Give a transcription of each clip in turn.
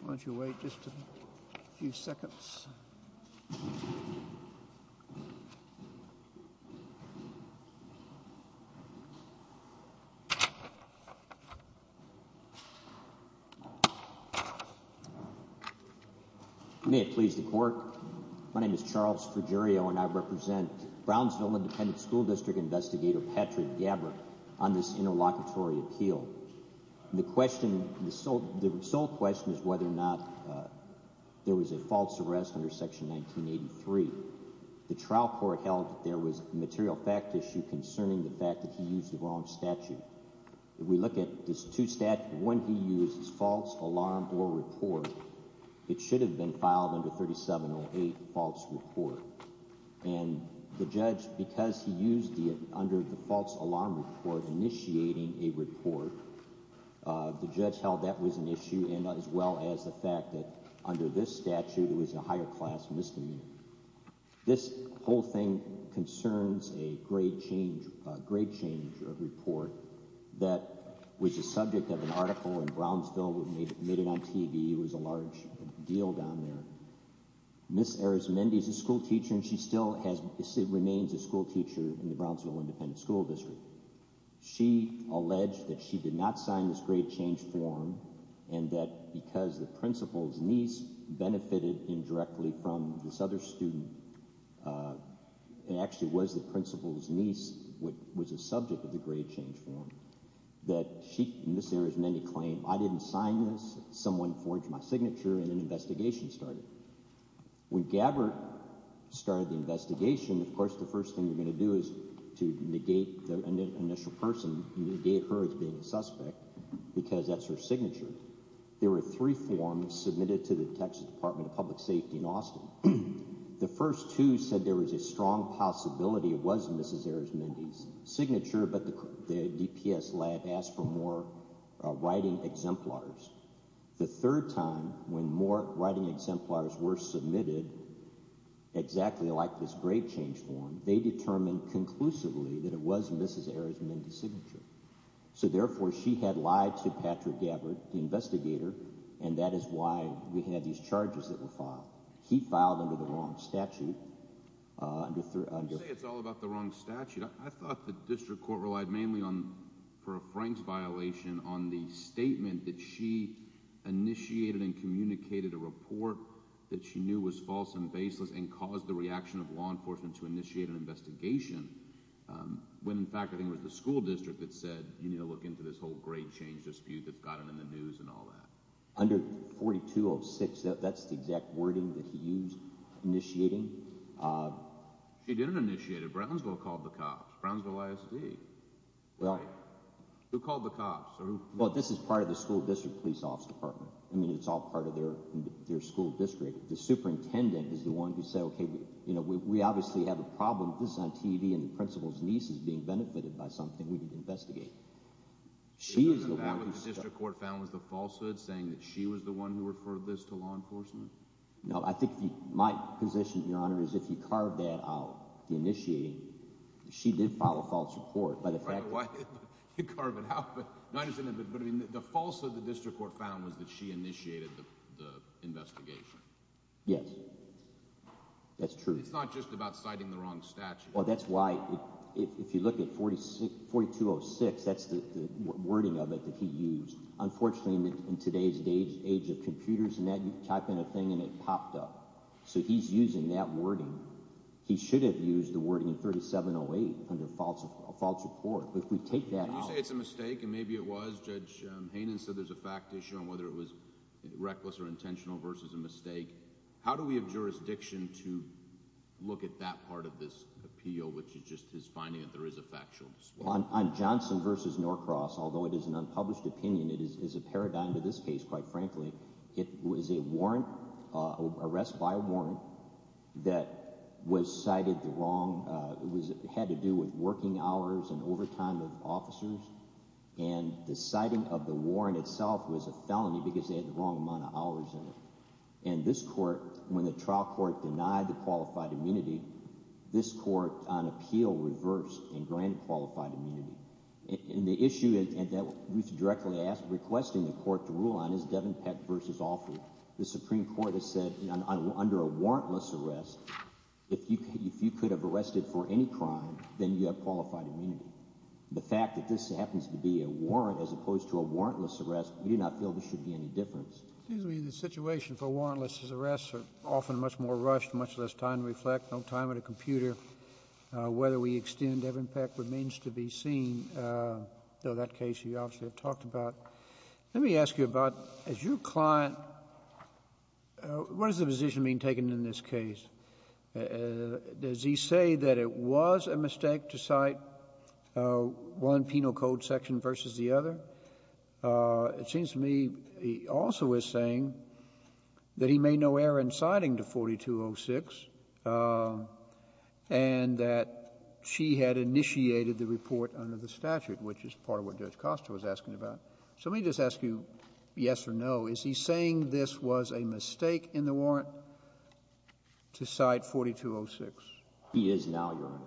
Why don't you wait just a few seconds. May it please the court, my name is Charles Fruggerio and I represent Brownsville Independent School District Investigator Patrick Gabbert on this interlocutory appeal. The question, the sole question is whether or not there was a false arrest under Section 1983. The trial court held that there was a material fact issue concerning the fact that he used the wrong statute. If we look at these two statutes, one he used is false alarm or report. It should have been filed under 3708 false report. And the judge, because he used it under the false alarm report, initiating a report, the judge held that was an issue as well as the fact that under this statute it was a higher class misdemeanor. This whole thing concerns a grade change report that was the subject of an article in Brownsville that made it on TV. It was a large deal down there. Ms. Arizmendi is a school teacher and she still remains a school teacher in the Brownsville Independent School District. She alleged that she did not sign this grade change form and that because the principal's niece benefited indirectly from this other student, it actually was the principal's niece that was the subject of the grade change form, that Ms. Arizmendi claimed, I didn't sign this, someone forged my signature, and an investigation started. When Gabbert started the investigation, of course the first thing you're going to do is to negate the initial person, negate her as being a suspect, because that's her signature. There were three forms submitted to the Texas Department of Public Safety in Austin. The first two said there was a strong possibility it was Ms. Arizmendi's signature, but the DPS lab asked for more writing exemplars. The third time, when more writing exemplars were submitted, exactly like this grade change form, they determined conclusively that it was Ms. Arizmendi's signature. So therefore she had lied to Patrick Gabbert, the investigator, and that is why we had these charges that were filed. He filed under the wrong statute. You say it's all about the wrong statute. I thought the district court relied mainly on, for a Franks violation, on the statement that she initiated and communicated a report that she knew was false and baseless and caused the reaction of law enforcement to initiate an investigation, when in fact I think it was the school district that said, you need to look into this whole grade change dispute that's gotten in the news and all that. Under 4206, that's the exact wording that he used, initiating. She didn't initiate it. Brownsville called the cops. Brownsville ISD. Well. Who called the cops? Well, this is part of the school district police office department. I mean, it's all part of their school district. The superintendent is the one who said, okay, we obviously have a problem. This is on TV and the principal's niece is being benefited by something. We need to investigate. The district court found was the falsehood saying that she was the one who referred this to law enforcement? No, I think my position, your honor, is if you carve that out, the initiating, she did file a false report by the fact. You carve it out, but the falsehood the district court found was that she initiated the investigation. Yes, that's true. It's not just about citing the wrong statute. Well, that's why, if you look at 4206, that's the wording of it that he used. Unfortunately, in today's age of computers and that, you type in a thing and it popped up. So he's using that wording. He should have used the wording in 3708 under a false report. But if we take that out. You say it's a mistake, and maybe it was. Judge Hanen said there's a fact issue on whether it was reckless or intentional versus a mistake. How do we have jurisdiction to look at that part of this appeal, which is just his finding that there is a factual? I'm Johnson versus Norcross. Although it is an unpublished opinion, it is a paradigm to this case. Quite frankly, it was a warrant arrest by a warrant that was cited the wrong. It had to do with working hours and overtime of officers. And the citing of the warrant itself was a felony because they had the wrong amount of hours in it. And this court, when the trial court denied the qualified immunity, this court on appeal reversed and granted qualified immunity. And the issue that Ruth directly asked, requesting the court to rule on, is Devin Peck versus Alford. The Supreme Court has said under a warrantless arrest, if you could have arrested for any crime, then you have qualified immunity. The fact that this happens to be a warrant as opposed to a warrantless arrest, we do not feel there should be any difference. It seems to me the situation for warrantless arrests are often much more rushed, much less time to reflect, no time at a computer. Whether we extend Devin Peck remains to be seen, though that case you obviously have talked about. Let me ask you about, as your client, what is the position being taken in this case? Does he say that it was a mistake to cite one penal code section versus the other? It seems to me he also is saying that he made no error in citing the 4206 and that she had initiated the report under the statute, which is part of what Judge Costa was asking about. So let me just ask you yes or no. Is he saying this was a mistake in the warrant to cite 4206? He is now, Your Honor.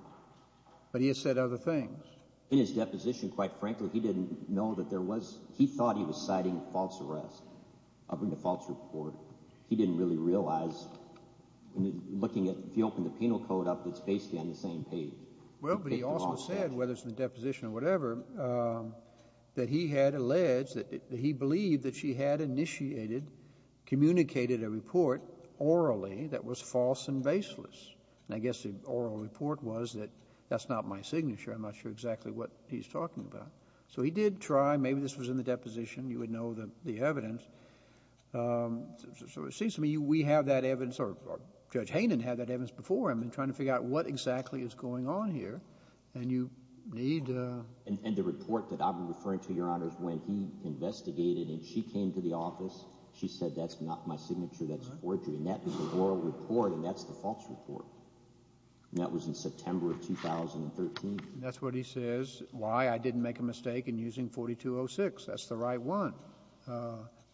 But he has said other things. In his deposition, quite frankly, he didn't know that there was, he thought he was citing a false arrest, a false report. He didn't really realize, looking at, if you open the penal code up, it's basically on the same page. Well, but he also said, whether it's in the deposition or whatever, that he had alleged, that he believed that she had initiated, communicated a report orally that was false and baseless. And I guess the oral report was that that's not my signature. I'm not sure exactly what he's talking about. So he did try. Maybe this was in the deposition. You would know the evidence. So it seems to me we have that evidence, or Judge Hainan had that evidence before him in trying to figure out what exactly is going on here. And you need to. And the report that I'm referring to, Your Honors, when he investigated and she came to the office, she said that's not my signature. That's forgery. And that was the oral report, and that's the false report. And that was in September of 2013. And that's what he says, why I didn't make a mistake in using 4206. That's the right one.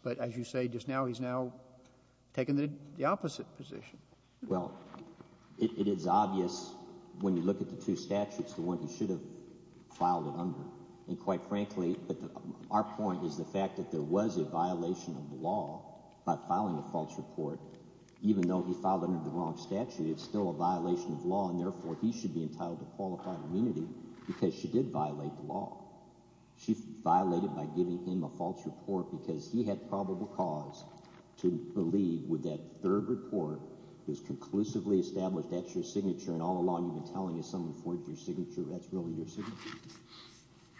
But as you say, just now he's now taken the opposite position. Well, it is obvious when you look at the two statutes, the one he should have filed it under. And quite frankly, our point is the fact that there was a violation of the law by filing a false report. Even though he filed under the wrong statute, it's still a violation of law, and therefore he should be entitled to qualified immunity because she did violate the law. She violated by giving him a false report because he had probable cause to believe with that third report that was conclusively established that's your signature. And all along you've been telling us someone forged your signature. That's really your signature.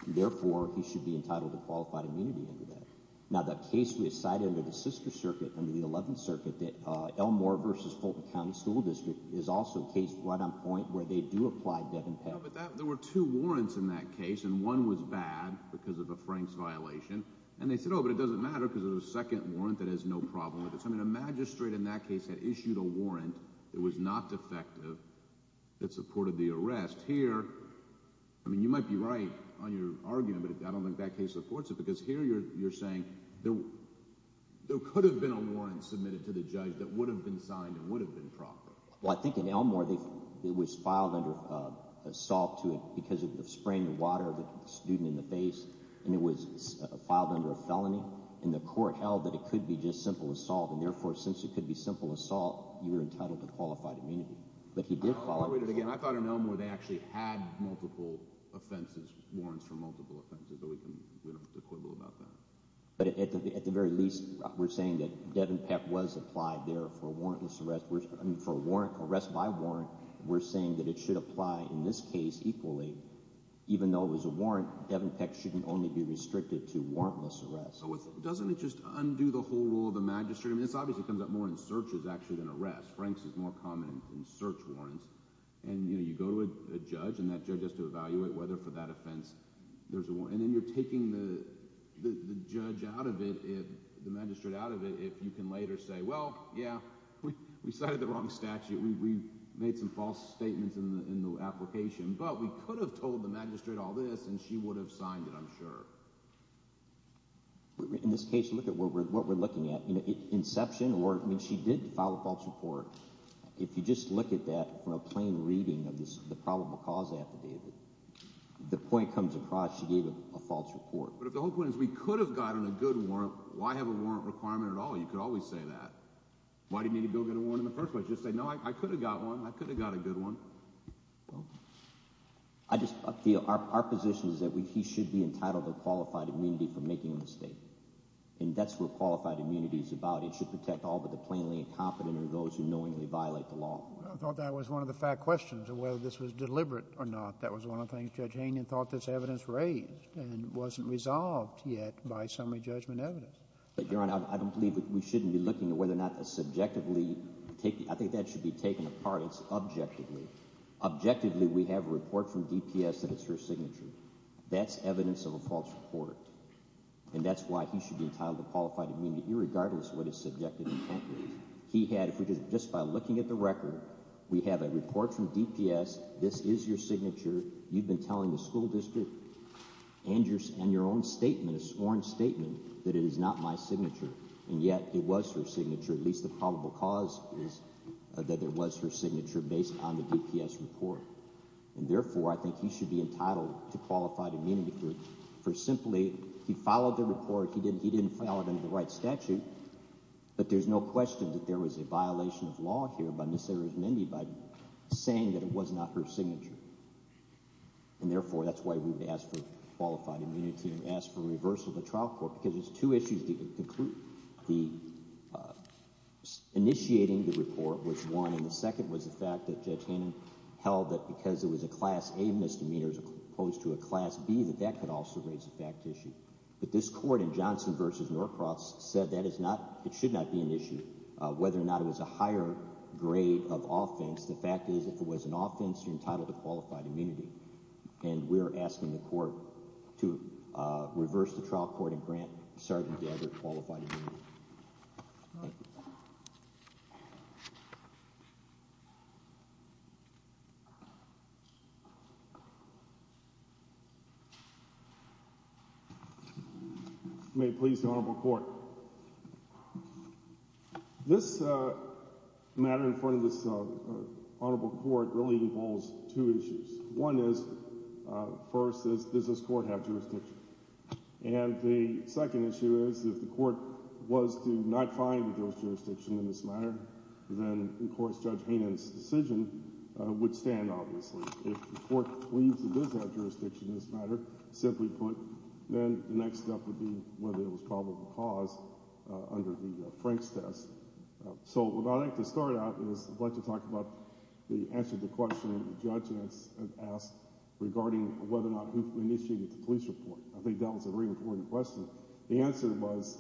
And therefore he should be entitled to qualified immunity under that. Now the case we cited under the Sister Circuit, under the Eleventh Circuit, that Elmore v. Fulton County School District is also a case right on point where they do apply Devin Pett. Yeah, but there were two warrants in that case, and one was bad because of a Franks violation. And they said, oh, but it doesn't matter because there's a second warrant that has no problem with it. So I mean a magistrate in that case had issued a warrant that was not defective that supported the arrest. Here, I mean you might be right on your argument, but I don't think that case supports it because here you're saying there could have been a warrant submitted to the judge that would have been signed and would have been proper. Well, I think in Elmore it was filed under assault because of spraying the water of the student in the face, and it was filed under a felony. And the court held that it could be just simple assault, and therefore since it could be simple assault, you were entitled to qualified immunity. But he did file it. I'll reiterate it again. I thought in Elmore they actually had multiple offenses, warrants for multiple offenses, but we don't have to quibble about that. But at the very least, we're saying that Devin Peck was applied there for a warrantless arrest. I mean for arrest by warrant, we're saying that it should apply in this case equally. Even though it was a warrant, Devin Peck shouldn't only be restricted to warrantless arrests. Doesn't it just undo the whole rule of the magistrate? I mean this obviously comes up more in searches actually than arrests. Franks is more common in search warrants. And you go to a judge, and that judge has to evaluate whether for that offense there's a warrant. And then you're taking the judge out of it, the magistrate out of it, if you can later say, well, yeah, we cited the wrong statute. We made some false statements in the application, but we could have told the magistrate all this, and she would have signed it I'm sure. In this case, look at what we're looking at. Inception or – I mean she did file a false report. If you just look at that from a plain reading of the probable cause affidavit, the point comes across she gave a false report. But if the whole point is we could have gotten a good warrant, why have a warrant requirement at all? You could always say that. Why do you need to go get a warrant in the first place? Just say, no, I could have got one. I could have got a good one. Our position is that he should be entitled to qualified immunity for making a mistake. And that's what qualified immunity is about. It should protect all but the plainly incompetent or those who knowingly violate the law. I thought that was one of the fat questions of whether this was deliberate or not. That was one of the things Judge Hainan thought this evidence raised and wasn't resolved yet by summary judgment evidence. But, Your Honor, I don't believe we shouldn't be looking at whether or not subjectively – I think that should be taken apart. It's objectively. Objectively, we have a report from DPS that it's her signature. That's evidence of a false report. And that's why he should be entitled to qualified immunity, irregardless of what his subjective intent was. He had – just by looking at the record, we have a report from DPS. This is your signature. You've been telling the school district and your own statement, a sworn statement, that it is not my signature. And yet it was her signature. At least the probable cause is that it was her signature based on the DPS report. And, therefore, I think he should be entitled to qualified immunity for simply – he followed the report. He didn't file it under the right statute. But there's no question that there was a violation of law here by Ms. Arizmendi by saying that it was not her signature. And, therefore, that's why we would ask for qualified immunity and ask for reversal of the trial court because there's two issues to conclude. The – initiating the report was one. And the second was the fact that Judge Hannon held that because it was a Class A misdemeanor as opposed to a Class B, that that could also raise a fact issue. But this court in Johnson v. Norcross said that is not – it should not be an issue whether or not it was a higher grade of offense. The fact is if it was an offense, you're entitled to qualified immunity. And we're asking the court to reverse the trial court and grant Sergeant Dagger qualified immunity. Thank you. May it please the Honorable Court. This matter in front of this Honorable Court really involves two issues. One is, first, does this court have jurisdiction? And the second issue is if the court was to not find a jurisdiction in this matter, then, of course, Judge Hannon's decision would stand, obviously. If the court believes it does have jurisdiction in this matter, simply put, then the next step would be whether it was probable cause under the Franks test. So what I'd like to start out is I'd like to talk about the answer to the question that the judge has asked regarding whether or not who initiated the police report. I think that was a very important question. The answer was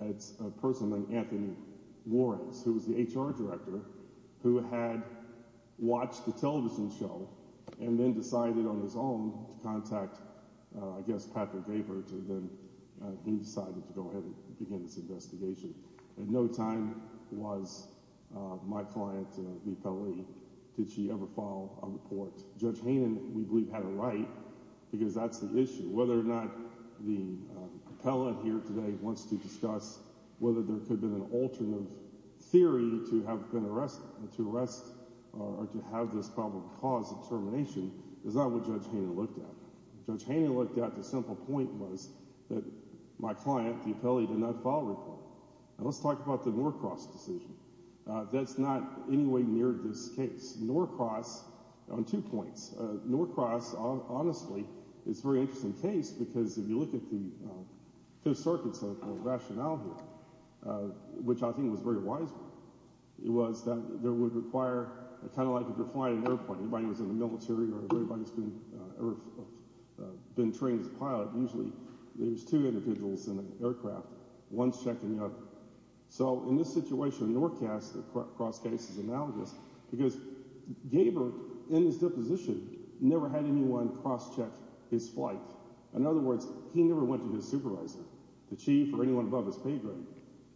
it's a person named Anthony Warrens, who was the HR director, who had watched the television show and then decided on his own to contact, I guess, Patrick Gabert. And then he decided to go ahead and begin this investigation. At no time was my client, the appellee, did she ever file a report. Judge Hannon, we believe, had a right because that's the issue. Whether or not the appellate here today wants to discuss whether there could have been an alternative theory to have been arrested, to arrest or to have this probable cause of termination, is not what Judge Hannon looked at. If Judge Hannon looked at, the simple point was that my client, the appellee, did not file a report. Now let's talk about the Norcross decision. That's not in any way near this case. Norcross on two points. Norcross, honestly, is a very interesting case because if you look at the Fifth Circuit's rationale here, which I think was very wise, it was that there would require kind of like if you're flying an airplane. If anybody was in the military or if anybody's ever been trained as a pilot, usually there's two individuals in an aircraft. One's checking up. So in this situation, Norcass, the cross-case is analogous because Gaber, in his deposition, never had anyone cross-check his flight. In other words, he never went to his supervisor, the chief or anyone above his pay grade,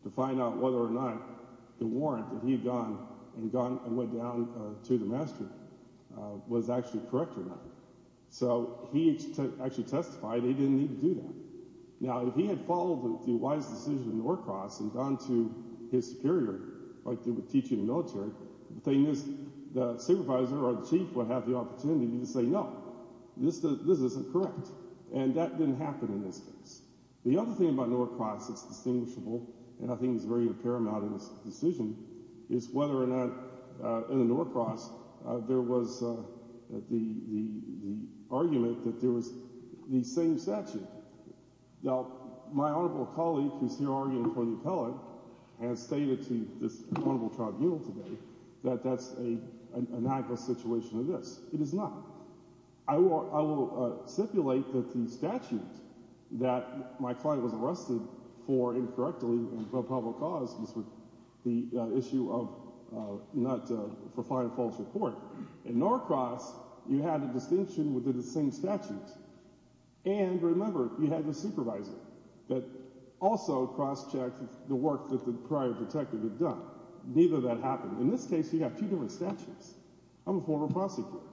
to find out whether or not the warrant that he had gone and went down to the master was actually correct or not. So he actually testified he didn't need to do that. Now if he had followed the wise decision of Norcross and gone to his superior like they would teach you in the military, the thing is the supervisor or the chief would have the opportunity to say no, this isn't correct. And that didn't happen in this case. The other thing about Norcross that's distinguishable, and I think is very paramount in this decision, is whether or not in the Norcross there was the argument that there was the same statute. Now, my honorable colleague who's here arguing for the appellate has stated to this honorable tribunal today that that's an analogous situation to this. It is not. I will stipulate that the statute that my client was arrested for incorrectly for a public cause, the issue of not – for filing a false report, in Norcross you had a distinction within the same statute. And remember, you had your supervisor that also cross-checked the work that the prior detective had done. Neither of that happened. In this case you have two different statutes. I'm a former prosecutor.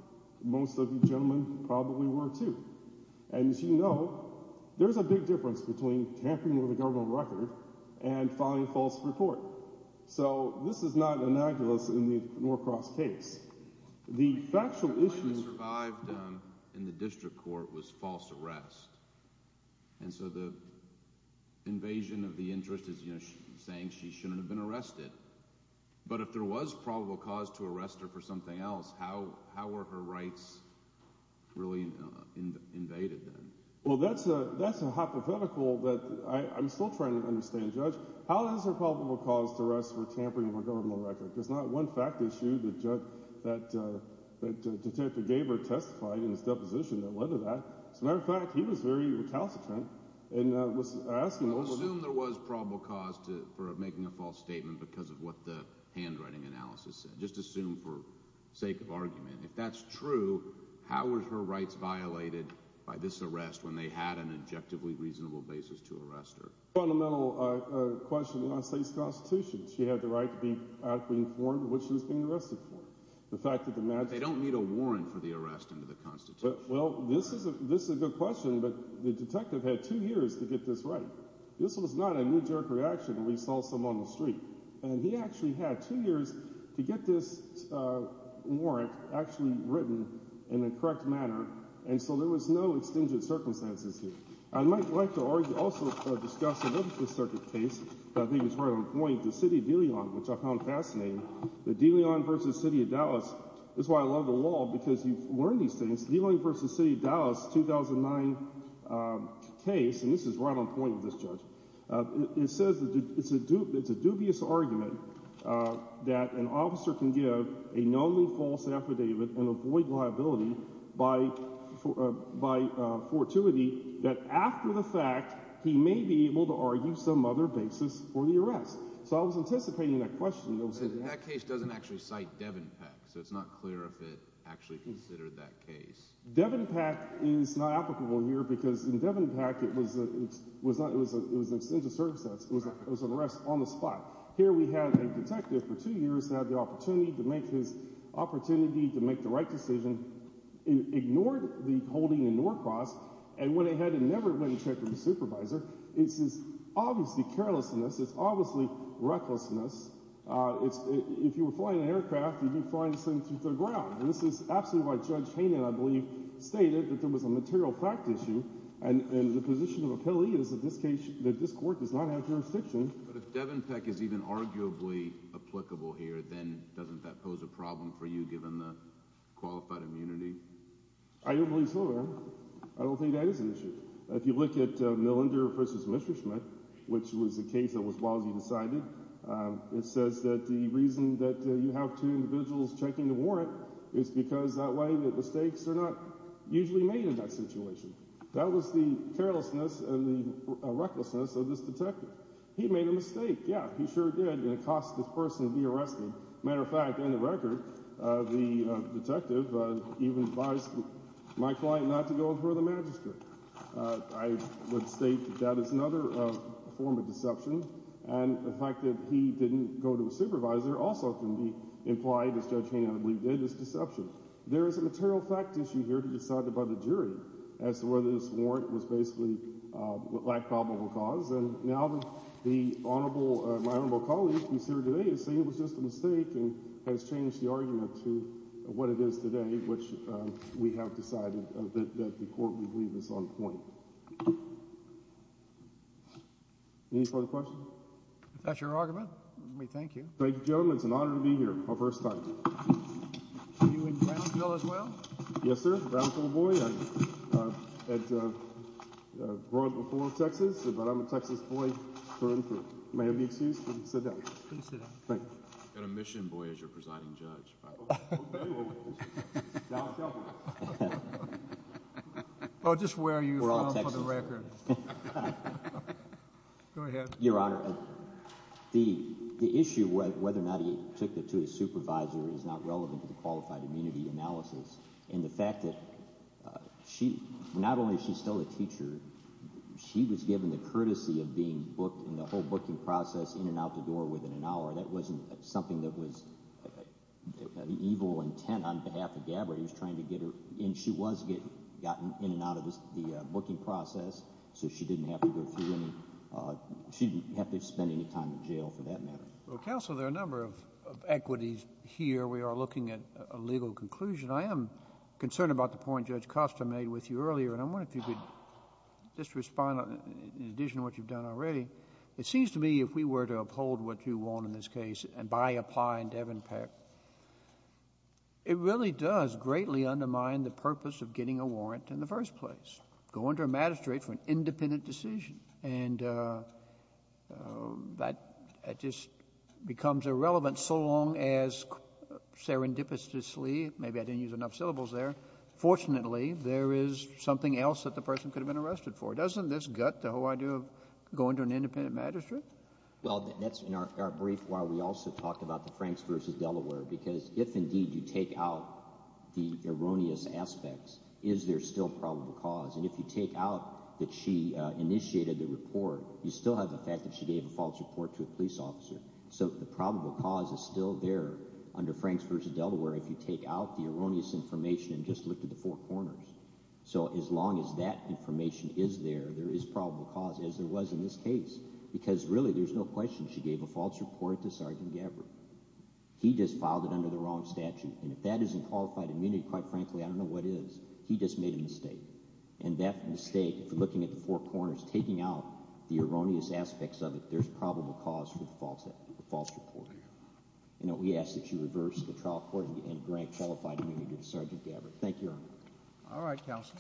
Most of you gentlemen probably were too. And as you know, there's a big difference between tampering with a government record and filing a false report. So this is not analogous in the Norcross case. The factual issue – My client survived in the district court was false arrest. And so the invasion of the interest is saying she shouldn't have been arrested. But if there was probable cause to arrest her for something else, how were her rights really invaded then? Well, that's a hypothetical that I'm still trying to understand, Judge. How is there probable cause to arrest for tampering with a government record? There's not one fact issue that Judge – that Detective Gaber testified in his deposition that led to that. As a matter of fact, he was very recalcitrant and was asking – Don't assume there was probable cause for making a false statement because of what the handwriting analysis said. Just assume for sake of argument. If that's true, how were her rights violated by this arrest when they had an objectively reasonable basis to arrest her? Fundamental question of the United States Constitution. She had the right to be adequately informed of what she was being arrested for. The fact that the – They don't need a warrant for the arrest under the Constitution. Well, this is a good question, but the detective had two years to get this right. This was not a knee-jerk reaction when he saw someone on the street. And he actually had two years to get this warrant actually written in the correct manner. And so there was no extingent circumstances here. I might like to also discuss another Fifth Circuit case that I think is right on point, the city of De Leon, which I found fascinating. The De Leon v. City of Dallas. This is why I love the law, because you learn these things. De Leon v. City of Dallas, 2009 case, and this is right on point with this judge. It says that it's a dubious argument that an officer can give a known false affidavit and avoid liability by fortuity that after the fact he may be able to argue some other basis for the arrest. So I was anticipating that question. That case doesn't actually cite Devon Peck, so it's not clear if it actually considered that case. Devon Peck is not applicable here because in Devon Peck it was an extensive circumstance. It was an arrest on the spot. Here we had a detective for two years that had the opportunity to make his opportunity to make the right decision, ignored the holding in Norcross, and went ahead and never went and checked with his supervisor. This is obviously carelessness. It's obviously recklessness. If you were flying an aircraft, you'd be flying this thing through the ground. And this is absolutely why Judge Hainan, I believe, stated that there was a material fact issue, and the position of appellee is that this court does not have jurisdiction. But if Devon Peck is even arguably applicable here, then doesn't that pose a problem for you, given the qualified immunity? I don't believe so, Your Honor. I don't think that is an issue. If you look at Millender v. Messerschmitt, which was the case that was Wasey decided, it says that the reason that you have two individuals checking the warrant is because that way the mistakes are not usually made in that situation. That was the carelessness and the recklessness of this detective. He made a mistake, yeah, he sure did, and it cost this person to be arrested. As a matter of fact, in the record, the detective even advised my client not to go for the magistrate. I would state that that is another form of deception, and the fact that he didn't go to a supervisor also can be implied, as Judge Hainan, I believe, did, as deception. There is a material fact issue here to be decided by the jury as to whether this warrant was basically lack of probable cause. And now my honorable colleague who is here today is saying it was just a mistake and has changed the argument to what it is today, which we have decided that the court will leave this on point. Any further questions? If that's your argument, we thank you. Thank you, gentlemen. It's an honor to be here, my first time. Are you in Brownsville as well? Yes, sir, Brownsville boy. I grew up before Texas, but I'm a Texas boy for and through. May I have the excuse to sit down? Please sit down. Thank you. An admission boy as your presiding judge. Oh, just where are you from for the record? Go ahead. Your Honor, the issue of whether or not he took it to his supervisor is not relevant to the qualified immunity analysis. And the fact that she, not only is she still a teacher, she was given the courtesy of being booked in the whole booking process in and out the door within an hour. That wasn't something that was the evil intent on behalf of Gabbard. He was trying to get her in. She was getting gotten in and out of the booking process, so she didn't have to go through any, she didn't have to spend any time in jail for that matter. Well, counsel, there are a number of equities here. We are looking at a legal conclusion. I am concerned about the point Judge Costa made with you earlier, and I wonder if you could just respond in addition to what you've done already. It seems to me if we were to uphold what you want in this case and by applying Devin Peck, it really does greatly undermine the purpose of getting a warrant in the first place. Go under a magistrate for an independent decision. And that just becomes irrelevant so long as serendipitously, maybe I didn't use enough syllables there, fortunately there is something else that the person could have been arrested for. Doesn't this gut the whole idea of going to an independent magistrate? Well, that's in our brief where we also talked about the Franks v. Delaware, because if indeed you take out the erroneous aspects, is there still probable cause? And if you take out that she initiated the report, you still have the fact that she gave a false report to a police officer. So the probable cause is still there under Franks v. Delaware if you take out the erroneous information and just look to the four corners. So as long as that information is there, there is probable cause as there was in this case. Because really there's no question she gave a false report to Sergeant Gabbard. He just filed it under the wrong statute. And if that isn't qualified immunity, quite frankly, I don't know what is. He just made a mistake. And that mistake, looking at the four corners, taking out the erroneous aspects of it, there's probable cause for the false report. We ask that you reverse the trial court and grant qualified immunity to Sergeant Gabbard. Thank you, Your Honor. All right, counsel.